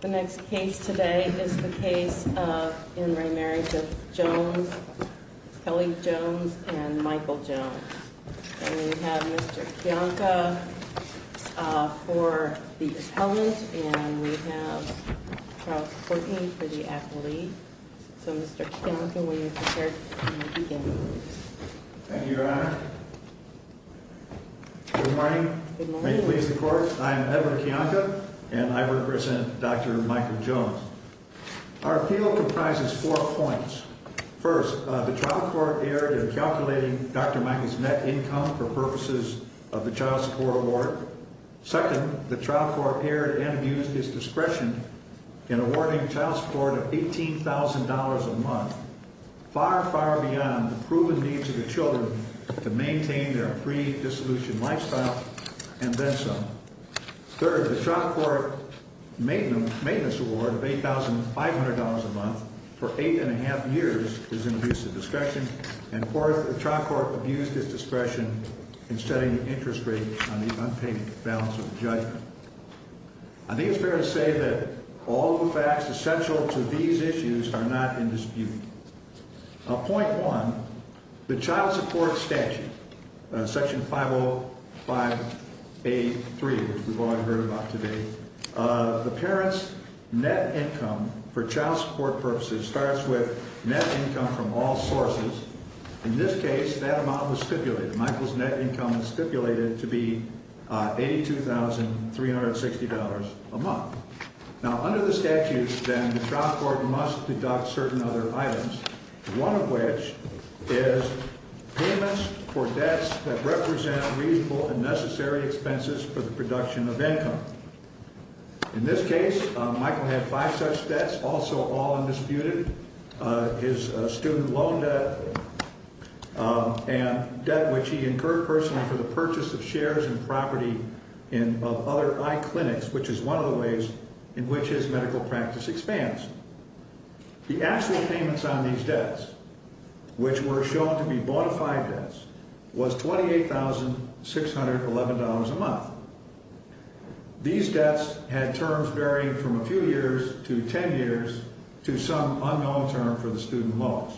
The next case today is the case of in remarriage of Jones, Kelly Jones and Michael Jones. And we have Mr. Kiyonka for the appellant and we have Charles Courtney for the acquittee. So Mr. Kiyonka, when you're prepared, you can begin. Thank you, Your Honor. Good morning. Good morning. I'm Edward Kiyonka and I represent Dr. Michael Jones. Our appeal comprises four points. First, the trial court erred in calculating Dr. Michael's net income for purposes of the child support award. Second, the trial court erred and abused his discretion in awarding child support of $18,000 a month. Far, far beyond the proven needs of the children to maintain their pre-dissolution lifestyle and then some. Third, the trial court maintenance award of $8,500 a month for eight and a half years is an abuse of discretion. And fourth, the trial court abused his discretion in setting interest rates on the unpaid balance of the judgment. I think it's fair to say that all the facts essential to these issues are not in dispute. Point one, the child support statute, section 50583, which we've all heard about today, the parent's net income for child support purposes starts with net income from all sources. In this case, that amount was stipulated. Michael's net income is stipulated to be $82,360 a month. Now, under the statute, then, the trial court must deduct certain other items, one of which is payments for debts that represent reasonable and necessary expenses for the production of income. In this case, Michael had five such debts, also all undisputed. His student loan debt and debt which he incurred personally for the purchase of shares and property in other iClinics, which is one of the ways in which his medical practice expands. The actual payments on these debts, which were shown to be bona fide debts, was $28,611 a month. These debts had terms varying from a few years to 10 years to some unknown term for the student loans.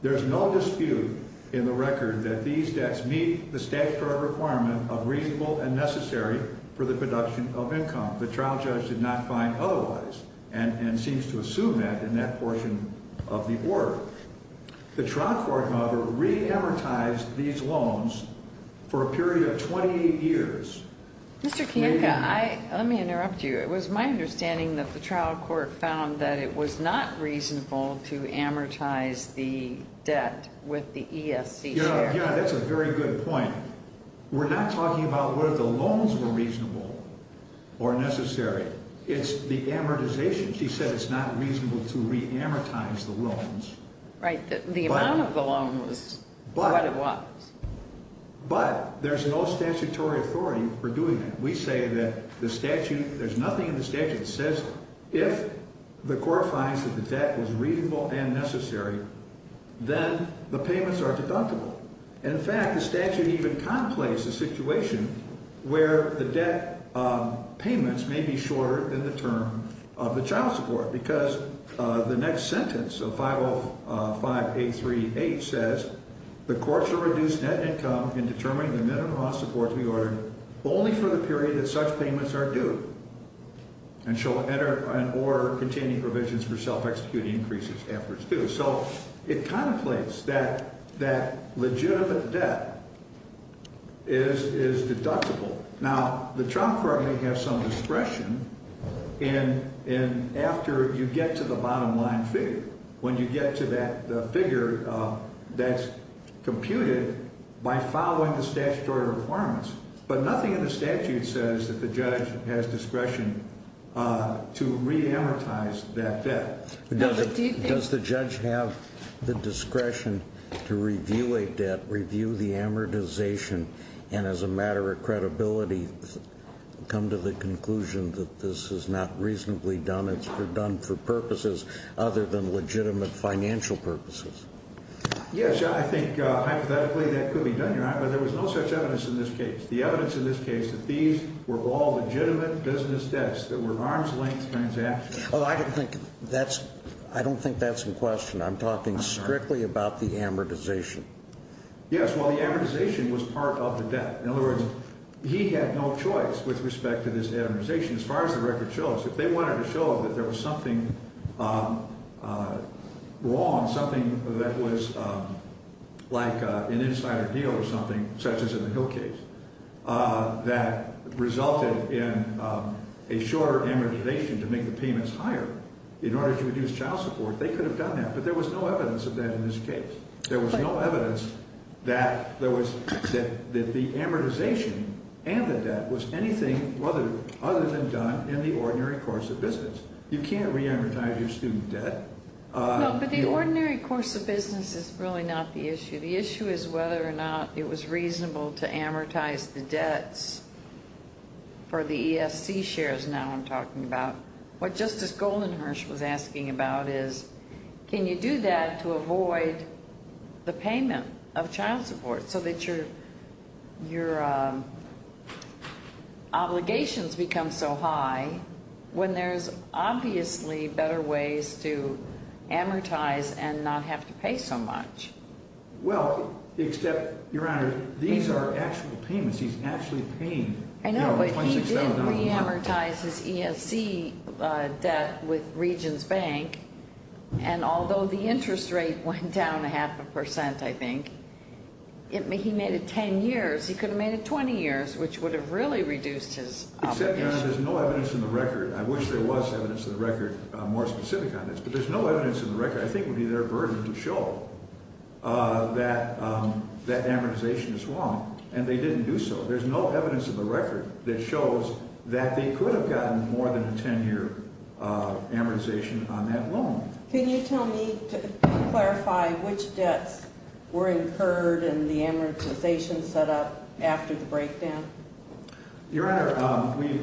There's no dispute in the record that these debts meet the statutory requirement of reasonable and necessary for the production of income. The trial judge did not find otherwise and seems to assume that in that portion of the order. The trial court mother re-amortized these loans for a period of 28 years. Mr. Kiyoka, let me interrupt you. It was my understanding that the trial court found that it was not reasonable to amortize the debt with the ESC share. Yeah, that's a very good point. We're not talking about whether the loans were reasonable or necessary. It's the amortization. She said it's not reasonable to re-amortize the loans. Right. The amount of the loan was what it was. But there's no statutory authority for doing that. We say that the statute, there's nothing in the statute that says if the court finds that the debt was reasonable and necessary, then the payments are deductible. In fact, the statute even contemplates a situation where the debt payments may be shorter than the term of the child support. Because the next sentence of 505A38 says, the court shall reduce net income in determining the minimum amount of support to be ordered only for the period that such payments are due. And shall enter an order containing provisions for self-executing increases after it's due. So it contemplates that that legitimate debt is deductible. Now, the trial court may have some discretion in after you get to the bottom line figure. When you get to that figure, that's computed by following the statutory requirements. But nothing in the statute says that the judge has discretion to re-amortize that debt. Does the judge have the discretion to review a debt, review the amortization, and as a matter of credibility, come to the conclusion that this is not reasonably done, it's done for purposes other than legitimate financial purposes? Yes, I think hypothetically that could be done, Your Honor. But there was no such evidence in this case. The evidence in this case that these were all legitimate business debts that were arm's length transactions. Well, I don't think that's in question. I'm talking strictly about the amortization. Yes, well, the amortization was part of the debt. In other words, he had no choice with respect to this amortization. If they wanted to show that there was something wrong, something that was like an insider deal or something, such as in the Hill case, that resulted in a shorter amortization to make the payments higher in order to reduce child support, they could have done that. But there was no evidence of that in this case. There was no evidence that the amortization and the debt was anything other than done in the ordinary course of business. You can't reamortize your student debt. No, but the ordinary course of business is really not the issue. The issue is whether or not it was reasonable to amortize the debts for the ESC shares now I'm talking about. What Justice Goldenhirsch was asking about is can you do that to avoid the payment of child support so that your obligations become so high when there's obviously better ways to amortize and not have to pay so much? Well, except, Your Honor, these are actual payments he's actually paying. I know, but he did reamortize his ESC debt with Regions Bank, and although the interest rate went down a half a percent, I think, he made it 10 years. He could have made it 20 years, which would have really reduced his obligation. Except, Your Honor, there's no evidence in the record. I wish there was evidence in the record more specific on this, but there's no evidence in the record I think would be their burden to show that that amortization is wrong, and they didn't do so. There's no evidence in the record that shows that they could have gotten more than a 10-year amortization on that loan. Can you tell me to clarify which debts were incurred in the amortization setup after the breakdown? Your Honor, we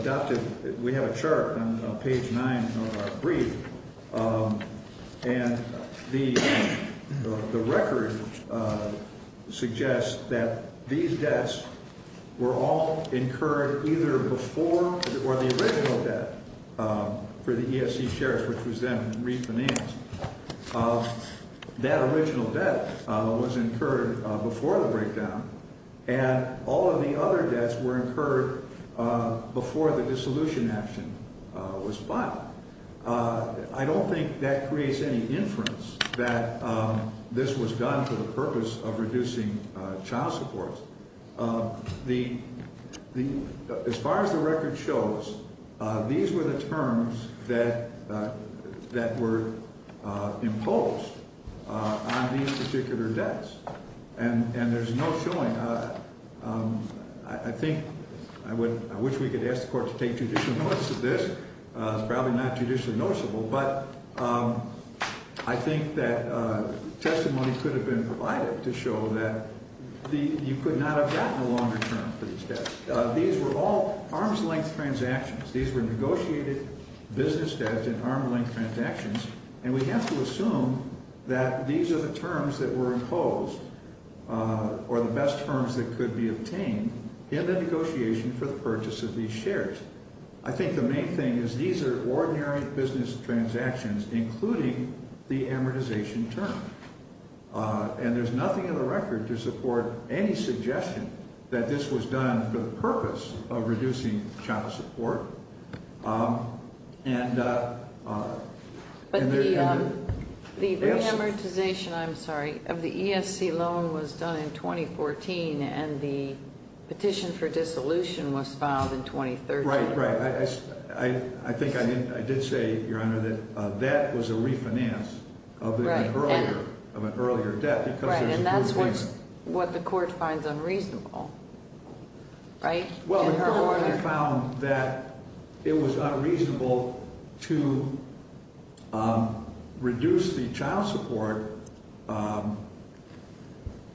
adopted – we have a chart on page 9 of our brief, and the record suggests that these debts were all incurred either before or the original debt for the ESC shares, which was then refinanced. That original debt was incurred before the breakdown, and all of the other debts were incurred before the dissolution action was filed. I don't think that creates any inference that this was done for the purpose of reducing child support. As far as the record shows, these were the terms that were imposed on these particular debts, and there's no showing. I think – I wish we could ask the Court to take judicial notice of this. It's probably not judicially noticeable, but I think that testimony could have been provided to show that you could not have gotten a longer term for these debts. These were all arm's-length transactions. These were negotiated business debts in arm's-length transactions, and we have to assume that these are the terms that were imposed or the best terms that could be obtained in the negotiation for the purchase of these shares. I think the main thing is these are ordinary business transactions, including the amortization term. And there's nothing in the record to support any suggestion that this was done for the purpose of reducing child support. But the re-amortization – I'm sorry – of the ESC loan was done in 2014, and the petition for dissolution was filed in 2013. Right, right. I think I did say, Your Honor, that that was a refinance of an earlier debt because there's a new payment. Right, and that's what the Court finds unreasonable, right? Well, the Court finally found that it was unreasonable to reduce the child support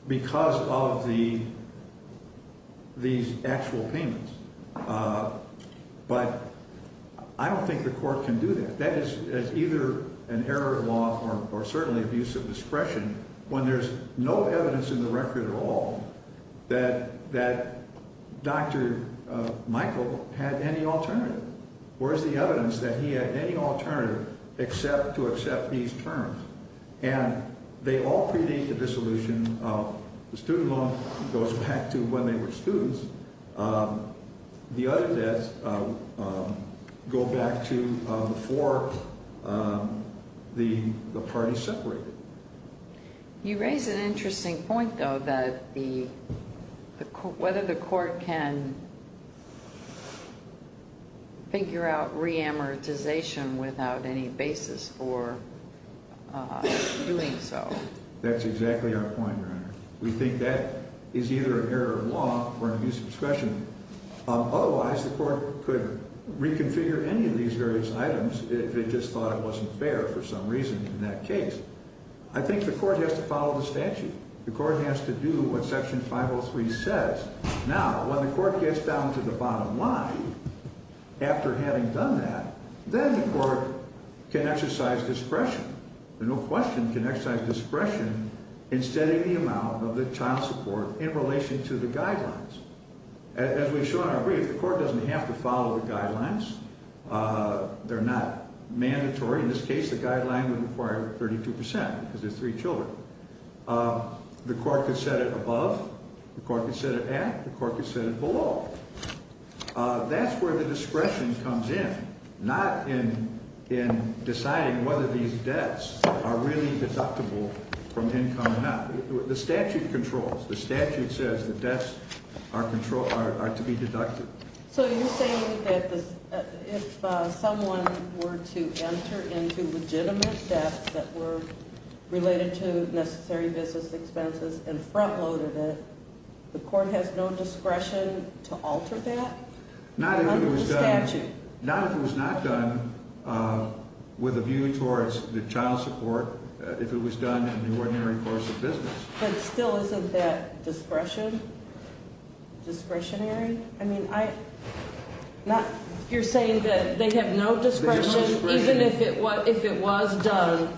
because of the – these actual payments. But I don't think the Court can do that. That is either an error of law or certainly abuse of discretion when there's no evidence in the record at all that Dr. Michael had any alternative. Where is the evidence that he had any alternative except to accept these terms? And they all predate the dissolution of the student loan. It goes back to when they were students. The other debts go back to before the parties separated. You raise an interesting point, though, that the – whether the Court can figure out re-amortization without any basis for doing so. That's exactly our point, Your Honor. We think that is either an error of law or an abuse of discretion. Otherwise, the Court could reconfigure any of these various items if it just thought it wasn't fair for some reason in that case. I think the Court has to follow the statute. The Court has to do what Section 503 says. Now, when the Court gets down to the bottom line, after having done that, then the Court can exercise discretion. There's no question it can exercise discretion in setting the amount of the child support in relation to the guidelines. As we've shown in our brief, the Court doesn't have to follow the guidelines. They're not mandatory. In this case, the guideline would require 32 percent because there's three children. The Court could set it above. The Court could set it at. The Court could set it below. That's where the discretion comes in, not in deciding whether these debts are really deductible from income or not. The statute controls. The statute says the debts are to be deducted. So you're saying that if someone were to enter into legitimate debts that were related to necessary business expenses and front-loaded it, the Court has no discretion to alter that under the statute? Not if it was not done with a view towards the child support if it was done in the ordinary course of business. But still, isn't that discretionary? I mean, you're saying that they have no discretion even if it was done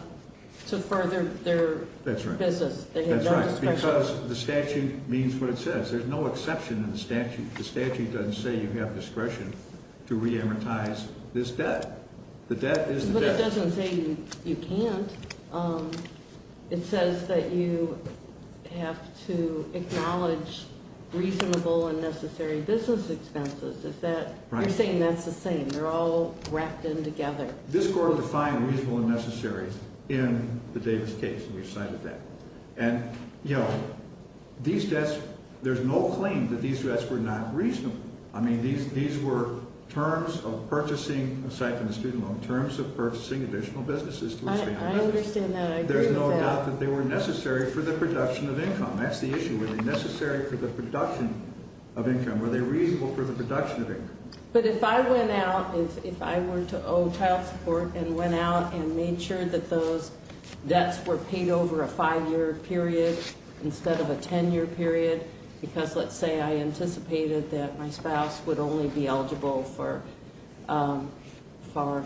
to further their business. That's right. Because the statute means what it says. There's no exception in the statute. The statute doesn't say you have discretion to reamortize this debt. The debt is the debt. But it doesn't say you can't. It says that you have to acknowledge reasonable and necessary business expenses. Is that right? You're saying that's the same. They're all wrapped in together. This Court will define reasonable and necessary in the Davis case, and we've cited that. And, you know, these debts, there's no claim that these debts were not reasonable. I mean, these were terms of purchasing, aside from the student loan, terms of purchasing additional businesses. I understand that. I agree with that. There's no doubt that they were necessary for the production of income. That's the issue. Were they necessary for the production of income? Were they reasonable for the production of income? But if I went out, if I were to owe child support and went out and made sure that those debts were paid over a five-year period instead of a ten-year period, because, let's say, I anticipated that my spouse would only be eligible for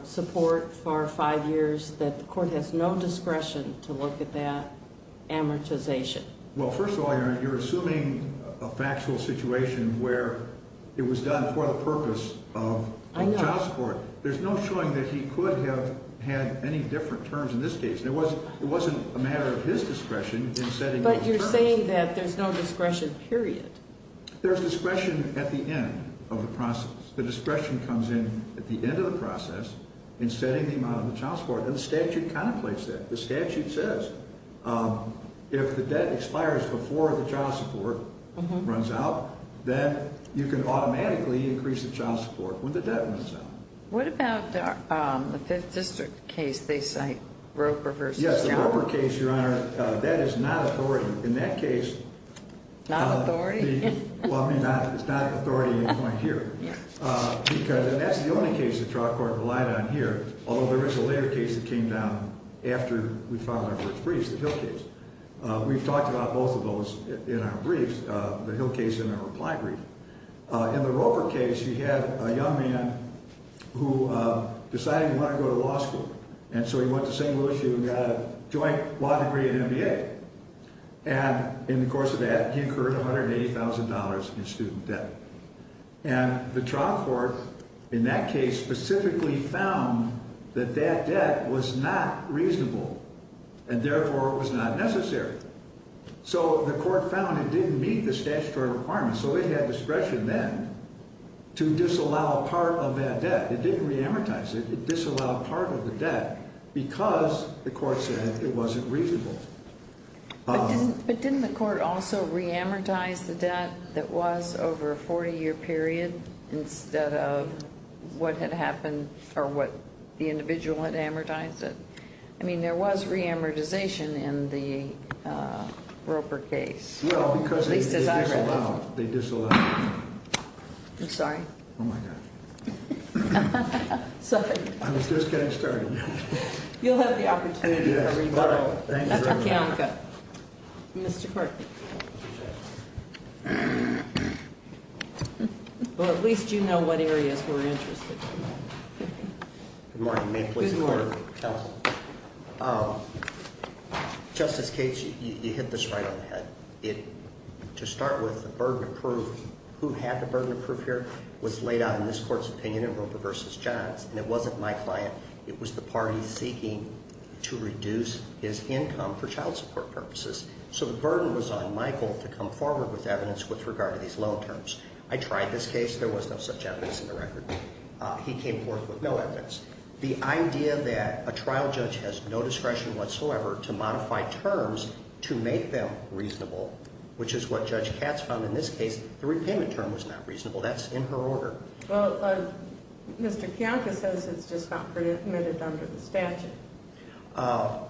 support for five years, that the Court has no discretion to look at that amortization? Well, first of all, you're assuming a factual situation where it was done for the purpose of child support. I know. There's no showing that he could have had any different terms in this case. It wasn't a matter of his discretion in setting those terms. But you're saying that there's no discretion, period. There's discretion at the end of the process. The discretion comes in at the end of the process in setting the amount of the child support, and the statute contemplates that. The statute says if the debt expires before the child support runs out, then you can automatically increase the child support when the debt runs out. What about the Fifth District case they cite, Roper v. Chow? Yes, the Roper case, Your Honor, that is not authority. In that case... Not authority? Well, I mean, it's not authority at this point here. Yes. Because, and that's the only case the trial court relied on here, although there is a later case that came down after we filed our first briefs, the Hill case. We've talked about both of those in our briefs, the Hill case and our reply brief. In the Roper case, you had a young man who decided he wanted to go to law school, and so he went to St. Louis. He even got a joint law degree and MBA. And in the course of that, he incurred $180,000 in student debt. And the trial court in that case specifically found that that debt was not reasonable and therefore was not necessary. So the court found it didn't meet the statutory requirements, so they had discretion then to disallow part of that debt. It didn't reamortize it. It disallowed part of the debt because the court said it wasn't reasonable. But didn't the court also reamortize the debt that was over a 40-year period instead of what had happened or what the individual had amortized it? I mean, there was reamortization in the Roper case. Well, because they disallowed it. They disallowed it. I'm sorry. Oh, my God. Sorry. I was just getting started. You'll have the opportunity to revert. Thank you very much. Mr. Kortman. Well, at least you know what areas we're interested in. Good morning. May it please the Court of Counsel. Good morning. Justice Cage, you hit this right on the head. To start with, the burden of proof, who had the burden of proof here, was laid out in this court's opinion in Roper v. Johns, and it wasn't my client. It was the party seeking to reduce his income for child support purposes. So the burden was on Michael to come forward with evidence with regard to these loan terms. I tried this case. There was no such evidence in the record. He came forth with no evidence. The idea that a trial judge has no discretion whatsoever to modify terms to make them reasonable, which is what Judge Katz found in this case, the repayment term was not reasonable. That's in her order. Well, Mr. Kiyanka says it's just not permitted under the statute.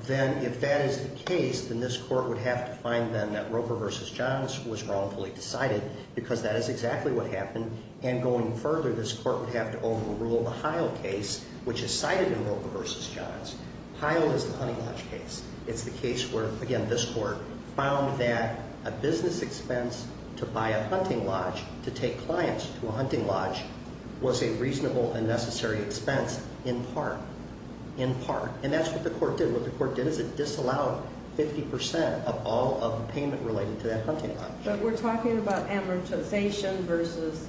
Then if that is the case, then this court would have to find then that Roper v. Johns was wrongfully decided because that is exactly what happened. And going further, this court would have to overrule the Heil case, which is cited in Roper v. Johns. Heil is the hunting lodge case. It's the case where, again, this court found that a business expense to buy a hunting lodge, to take clients to a hunting lodge, was a reasonable and necessary expense in part, in part. And that's what the court did. What the court did is it disallowed 50 percent of all of the payment related to that hunting lodge. But we're talking about amortization versus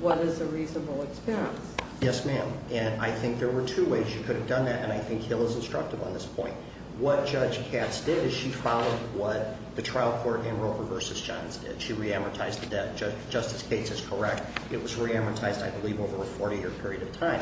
what is a reasonable expense. Yes, ma'am. And I think there were two ways you could have done that, and I think Hill is instructive on this point. What Judge Katz did is she followed what the trial court in Roper v. Johns did. She re-amortized the debt. Justice Katz is correct. It was re-amortized, I believe, over a 40-year period of time.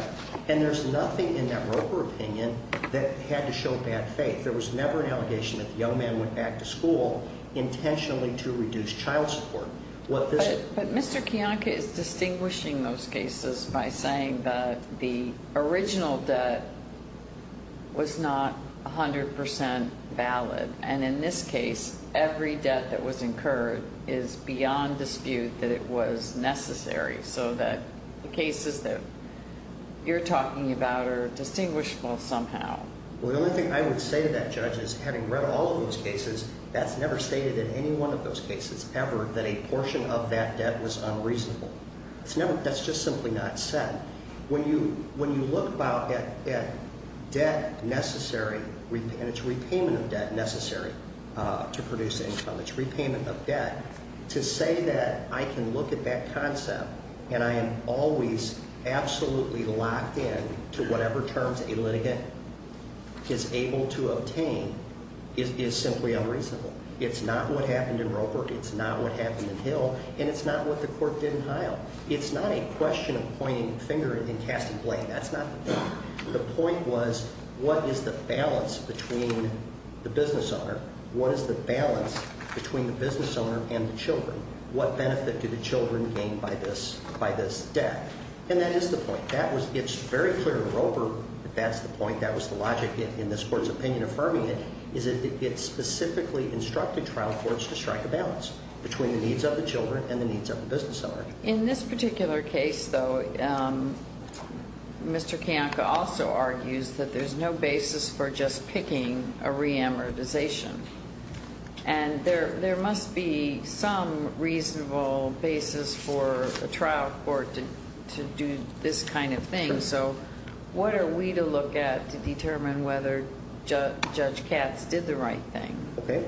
And there's nothing in that Roper opinion that had to show bad faith. There was never an allegation that the young man went back to school intentionally to reduce child support. But Mr. Kiyonka is distinguishing those cases by saying that the original debt was not 100 percent valid. And in this case, every debt that was incurred is beyond dispute that it was necessary so that the cases that you're talking about are distinguishable somehow. Well, the only thing I would say to that, Judge, is having read all of those cases, that's never stated in any one of those cases ever that a portion of that debt was unreasonable. That's just simply not said. When you look at debt necessary, and it's repayment of debt necessary to produce income, it's repayment of debt, to say that I can look at that concept and I am always absolutely locked in to whatever terms a litigant is able to obtain is simply unreasonable. It's not what happened in Roper. It's not what happened in Hill. And it's not what the court did in Hile. It's not a question of pointing a finger and casting blame. That's not the point. The point was what is the balance between the business owner? What is the balance between the business owner and the children? What benefit do the children gain by this debt? And that is the point. It's very clear in Roper that that's the point, that was the logic in this court's opinion affirming it, is that it specifically instructed trial courts to strike a balance between the needs of the children and the needs of the business owner. In this particular case, though, Mr. Kiyonka also argues that there's no basis for just picking a reamortization. And there must be some reasonable basis for a trial court to do this kind of thing. So what are we to look at to determine whether Judge Katz did the right thing? Okay.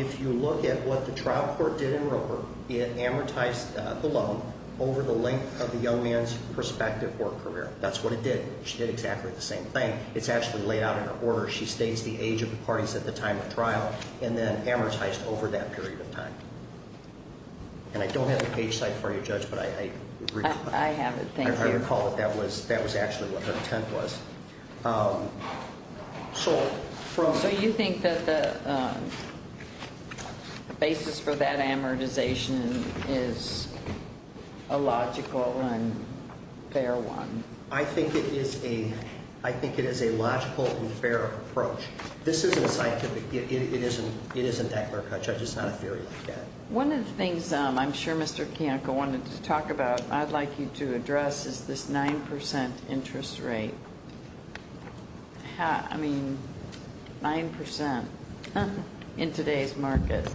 If you look at what the trial court did in Roper, it amortized the loan over the length of the young man's prospective work career. That's what it did. She did exactly the same thing. It's actually laid out in her order. She states the age of the parties at the time of trial and then amortized over that period of time. And I don't have the page cited for you, Judge, but I read it. I have it. Thank you. I recall that that was actually what her intent was. So you think that the basis for that amortization is a logical and fair one? I think it is a logical and fair approach. This isn't scientific. It isn't Eckler-Kutcher. It's just not a theory like that. One of the things I'm sure Mr. Kanko wanted to talk about I'd like you to address is this 9% interest rate. I mean, 9% in today's market.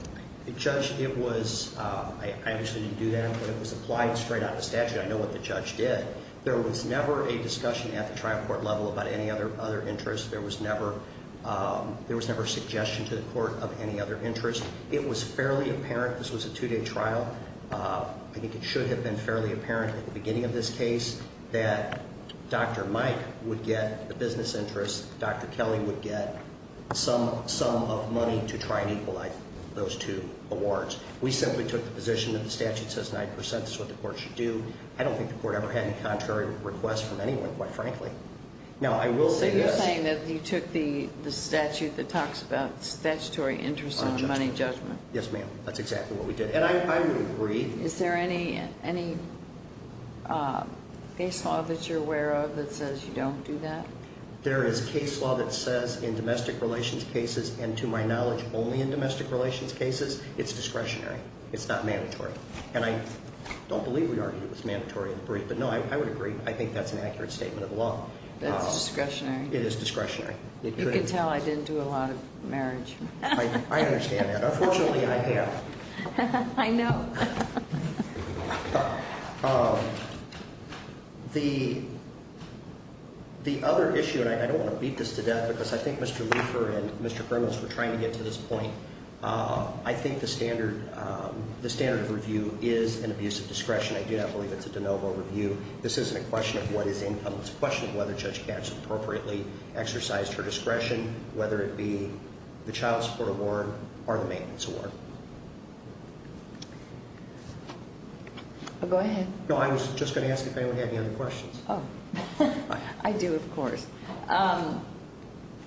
Judge, it was ‑‑ I actually didn't do that, but it was applied straight out of statute. I know what the judge did. There was never a discussion at the trial court level about any other interest. There was never a suggestion to the court of any other interest. It was fairly apparent. This was a two‑day trial. I think it should have been fairly apparent at the beginning of this case that Dr. Mike would get the business interest, Dr. Kelly would get some of money to try and equalize those two awards. We simply took the position that the statute says 9%. That's what the court should do. I don't think the court ever had a contrary request from anyone, quite frankly. Now, I will say this. But you took the statute that talks about statutory interest in money judgment. Yes, ma'am. That's exactly what we did. And I would agree. Is there any case law that you're aware of that says you don't do that? There is case law that says in domestic relations cases, and to my knowledge, only in domestic relations cases, it's discretionary. It's not mandatory. And I don't believe we argued it was mandatory in the brief. But, no, I would agree. I think that's an accurate statement of the law. It's discretionary. It is discretionary. You can tell I didn't do a lot of marriage. I understand that. Unfortunately, I have. I know. The other issue, and I don't want to beat this to death, because I think Mr. Lufer and Mr. Grimace were trying to get to this point. I think the standard of review is an abuse of discretion. I do not believe it's a de novo review. This isn't a question of what is income. It's a question of whether Judge Katz appropriately exercised her discretion, whether it be the Child Support Award or the Maintenance Award. Go ahead. No, I was just going to ask if anyone had any other questions. Oh, I do, of course.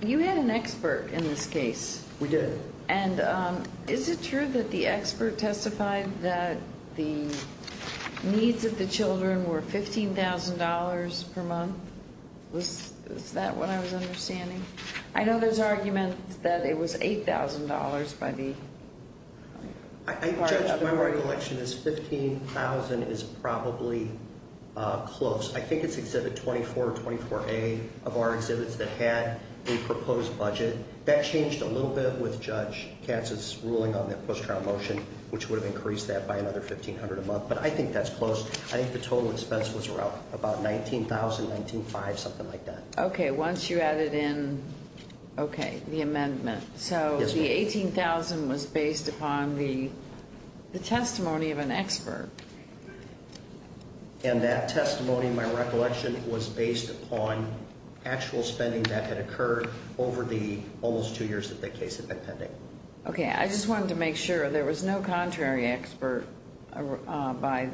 You had an expert in this case. We did. And is it true that the expert testified that the needs of the children were $15,000 per month? Is that what I was understanding? I know there's arguments that it was $8,000 by the part of the board. My recollection is $15,000 is probably close. I think it's Exhibit 24 or 24A of our exhibits that had a proposed budget. That changed a little bit with Judge Katz's ruling on that post-trial motion, which would have increased that by another $1,500 a month. But I think that's close. I think the total expense was about $19,000, $19,500, something like that. Okay, once you added in the amendment. So the $18,000 was based upon the testimony of an expert. And that testimony, my recollection, was based upon actual spending that had occurred over the almost two years that the case had been pending. Okay, I just wanted to make sure there was no contrary expert by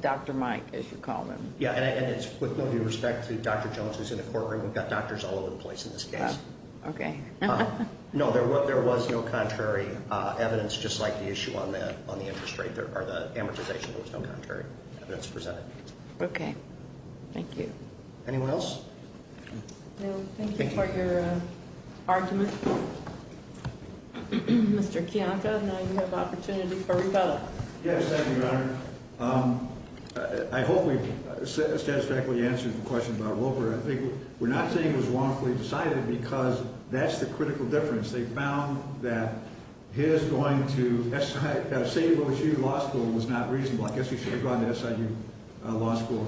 Dr. Mike, as you called him. Yeah, and it's with no due respect to Dr. Jones, who's in the courtroom. We've got doctors all over the place in this case. Okay. No, there was no contrary evidence, just like the issue on the interest rate or the amortization. There was no contrary evidence presented. Okay, thank you. Anyone else? No, thank you for your argument. Mr. Kiyanka, now you have opportunity for rebuttal. Yes, thank you, Your Honor. I hope we've satisfactorily answered the question about Wilbur. I think we're not saying it was wrongfully decided, because that's the critical difference. They found that his going to St. Louis U Law School was not reasonable. I guess he should have gone to SIU Law School,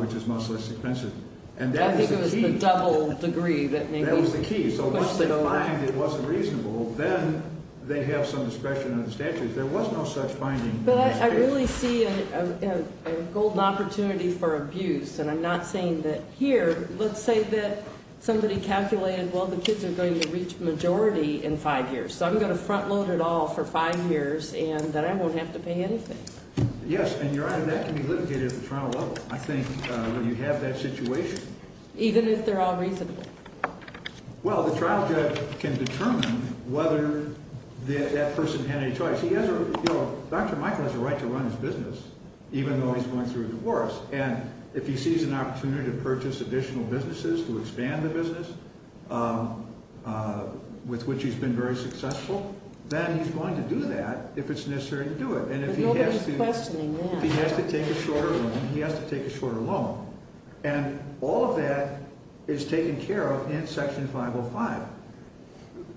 which is much less expensive. I think it was the double degree. That was the key. So once they find it wasn't reasonable, then they have some discretion in the statutes. There was no such finding in this case. Well, I really see a golden opportunity for abuse, and I'm not saying that here. Let's say that somebody calculated, well, the kids are going to reach majority in five years, so I'm going to front load it all for five years and then I won't have to pay anything. Yes, and, Your Honor, that can be litigated at the trial level, I think, when you have that situation. Even if they're all reasonable? Well, the trial judge can determine whether that person had any choice. Dr. Michael has a right to run his business, even though he's going through divorce, and if he sees an opportunity to purchase additional businesses to expand the business with which he's been very successful, then he's going to do that if it's necessary to do it. But nobody's questioning that. If he has to take a shorter loan, he has to take a shorter loan. And all of that is taken care of in Section 505.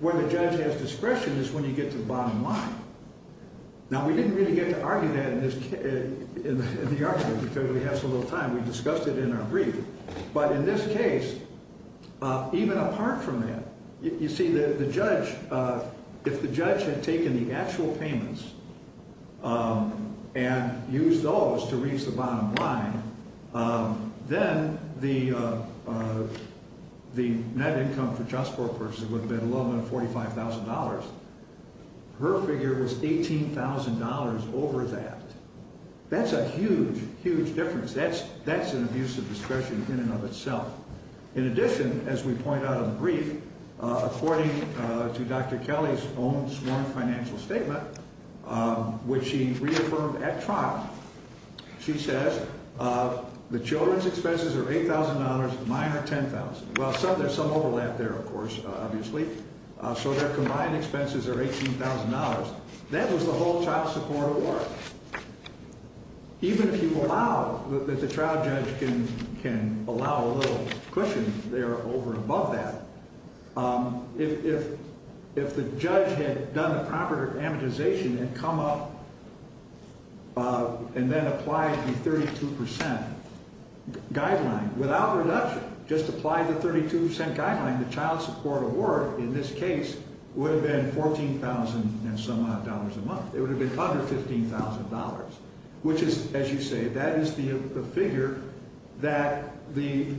Where the judge has discretion is when you get to the bottom line. Now, we didn't really get to argue that in the argument because we have so little time. We discussed it in our brief. But in this case, even apart from that, you see the judge, if the judge had taken the actual payments and used those to reach the bottom line, then the net income for just that person would have been $1145,000. Her figure was $18,000 over that. That's a huge, huge difference. That's an abuse of discretion in and of itself. In addition, as we point out in the brief, according to Dr. Kelly's own sworn financial statement, which she reaffirmed at trial, she says the children's expenses are $8,000, mine are $10,000. Well, there's some overlap there, of course, obviously. So their combined expenses are $18,000. That was the whole child support award. Even if you allow, if the trial judge can allow a little cushion there over and above that, if the judge had done the proper amortization and come up and then applied the 32% guideline without reduction, just applied the 32% guideline, the child support award in this case would have been $14,000 and some odd a month. It would have been $115,000, which is, as you say, that is the figure that the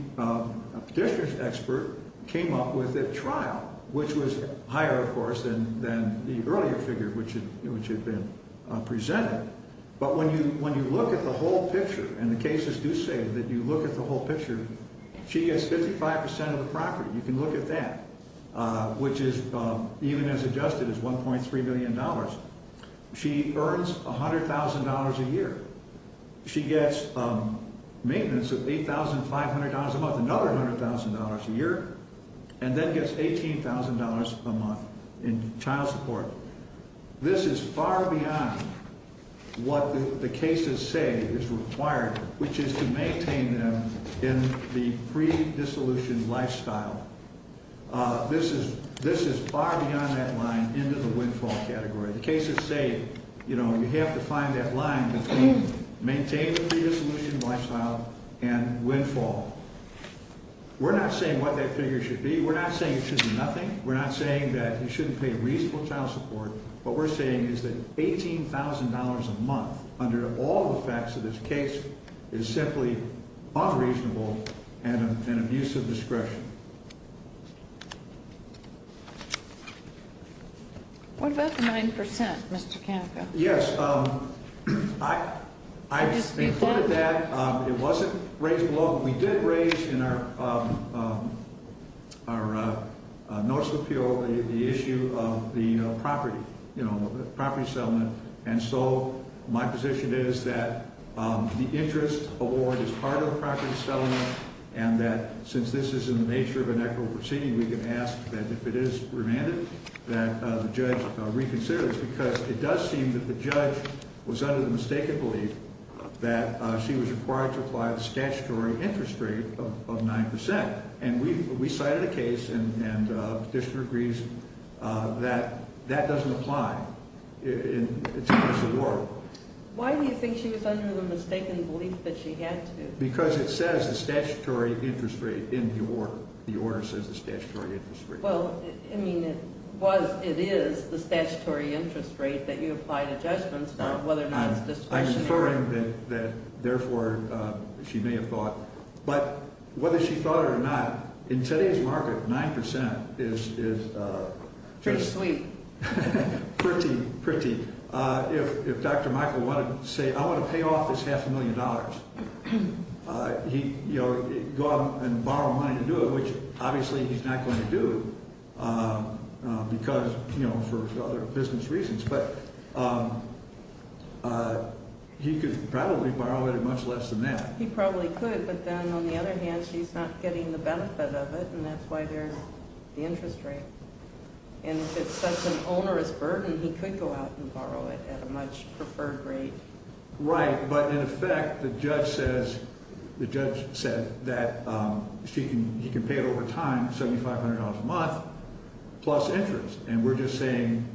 district expert came up with at trial, which was higher, of course, than the earlier figure, which had been presented. But when you look at the whole picture, and the cases do say that you look at the whole picture, she has 55% of the property. You can look at that, which is even as adjusted as $1.3 million. She earns $100,000 a year. She gets maintenance of $8,500 a month, another $100,000 a year, and then gets $18,000 a month in child support. This is far beyond what the cases say is required, which is to maintain them in the pre-dissolution lifestyle. This is far beyond that line into the windfall category. The cases say, you know, you have to find that line between maintaining the pre-dissolution lifestyle and windfall. We're not saying what that figure should be. We're not saying it should be nothing. We're not saying that you shouldn't pay reasonable child support. What we're saying is that $18,000 a month, under all the facts of this case, is simply unreasonable and an abuse of discretion. What about the 9%, Mr. Kanica? Yes, I just included that. It wasn't raised below. We did raise in our notice of appeal the issue of the property, you know, the property settlement, and so my position is that the interest award is part of the property settlement and that since this is in the nature of an equitable proceeding, we can ask that if it is remanded, that the judge reconsider this because it does seem that the judge was under the mistaken belief that she was required to apply the statutory interest rate of 9%. And we cited a case and the petitioner agrees that that doesn't apply in this award. Why do you think she was under the mistaken belief that she had to? Because it says the statutory interest rate in the order. The order says the statutory interest rate. Well, I mean, it was, it is the statutory interest rate that you apply to judgments whether or not it's discretionary. I'm inferring that therefore she may have thought, but whether she thought it or not, in today's market, 9% is... Pretty sweet. Pretty, pretty. If Dr. Michael wanted to say, I want to pay off this half a million dollars, he'd go out and borrow money to do it, which obviously he's not going to do because, you know, for other business reasons, but he could probably borrow it at much less than that. He probably could, but then on the other hand, she's not getting the benefit of it, and that's why there's the interest rate. And if it's such an onerous burden, he could go out and borrow it at a much preferred rate. Right, but in effect, the judge says, the judge said that he can pay it over time, $7,500 a month, plus interest, and we're just saying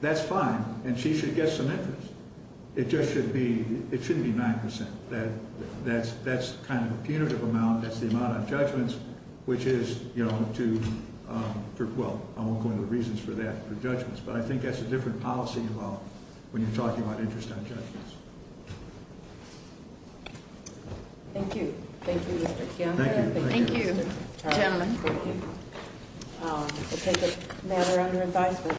that's fine, and she should get some interest. It just should be, it shouldn't be 9%. That's kind of a punitive amount. That's the amount on judgments, which is, you know, to, well, I won't go into the reasons for that for judgments, but I think that's a different policy involved when you're talking about interest on judgments. Thank you. Thank you, Mr. Campbell. Thank you. Thank you, gentlemen. Thank you. We'll take a matter under advisement.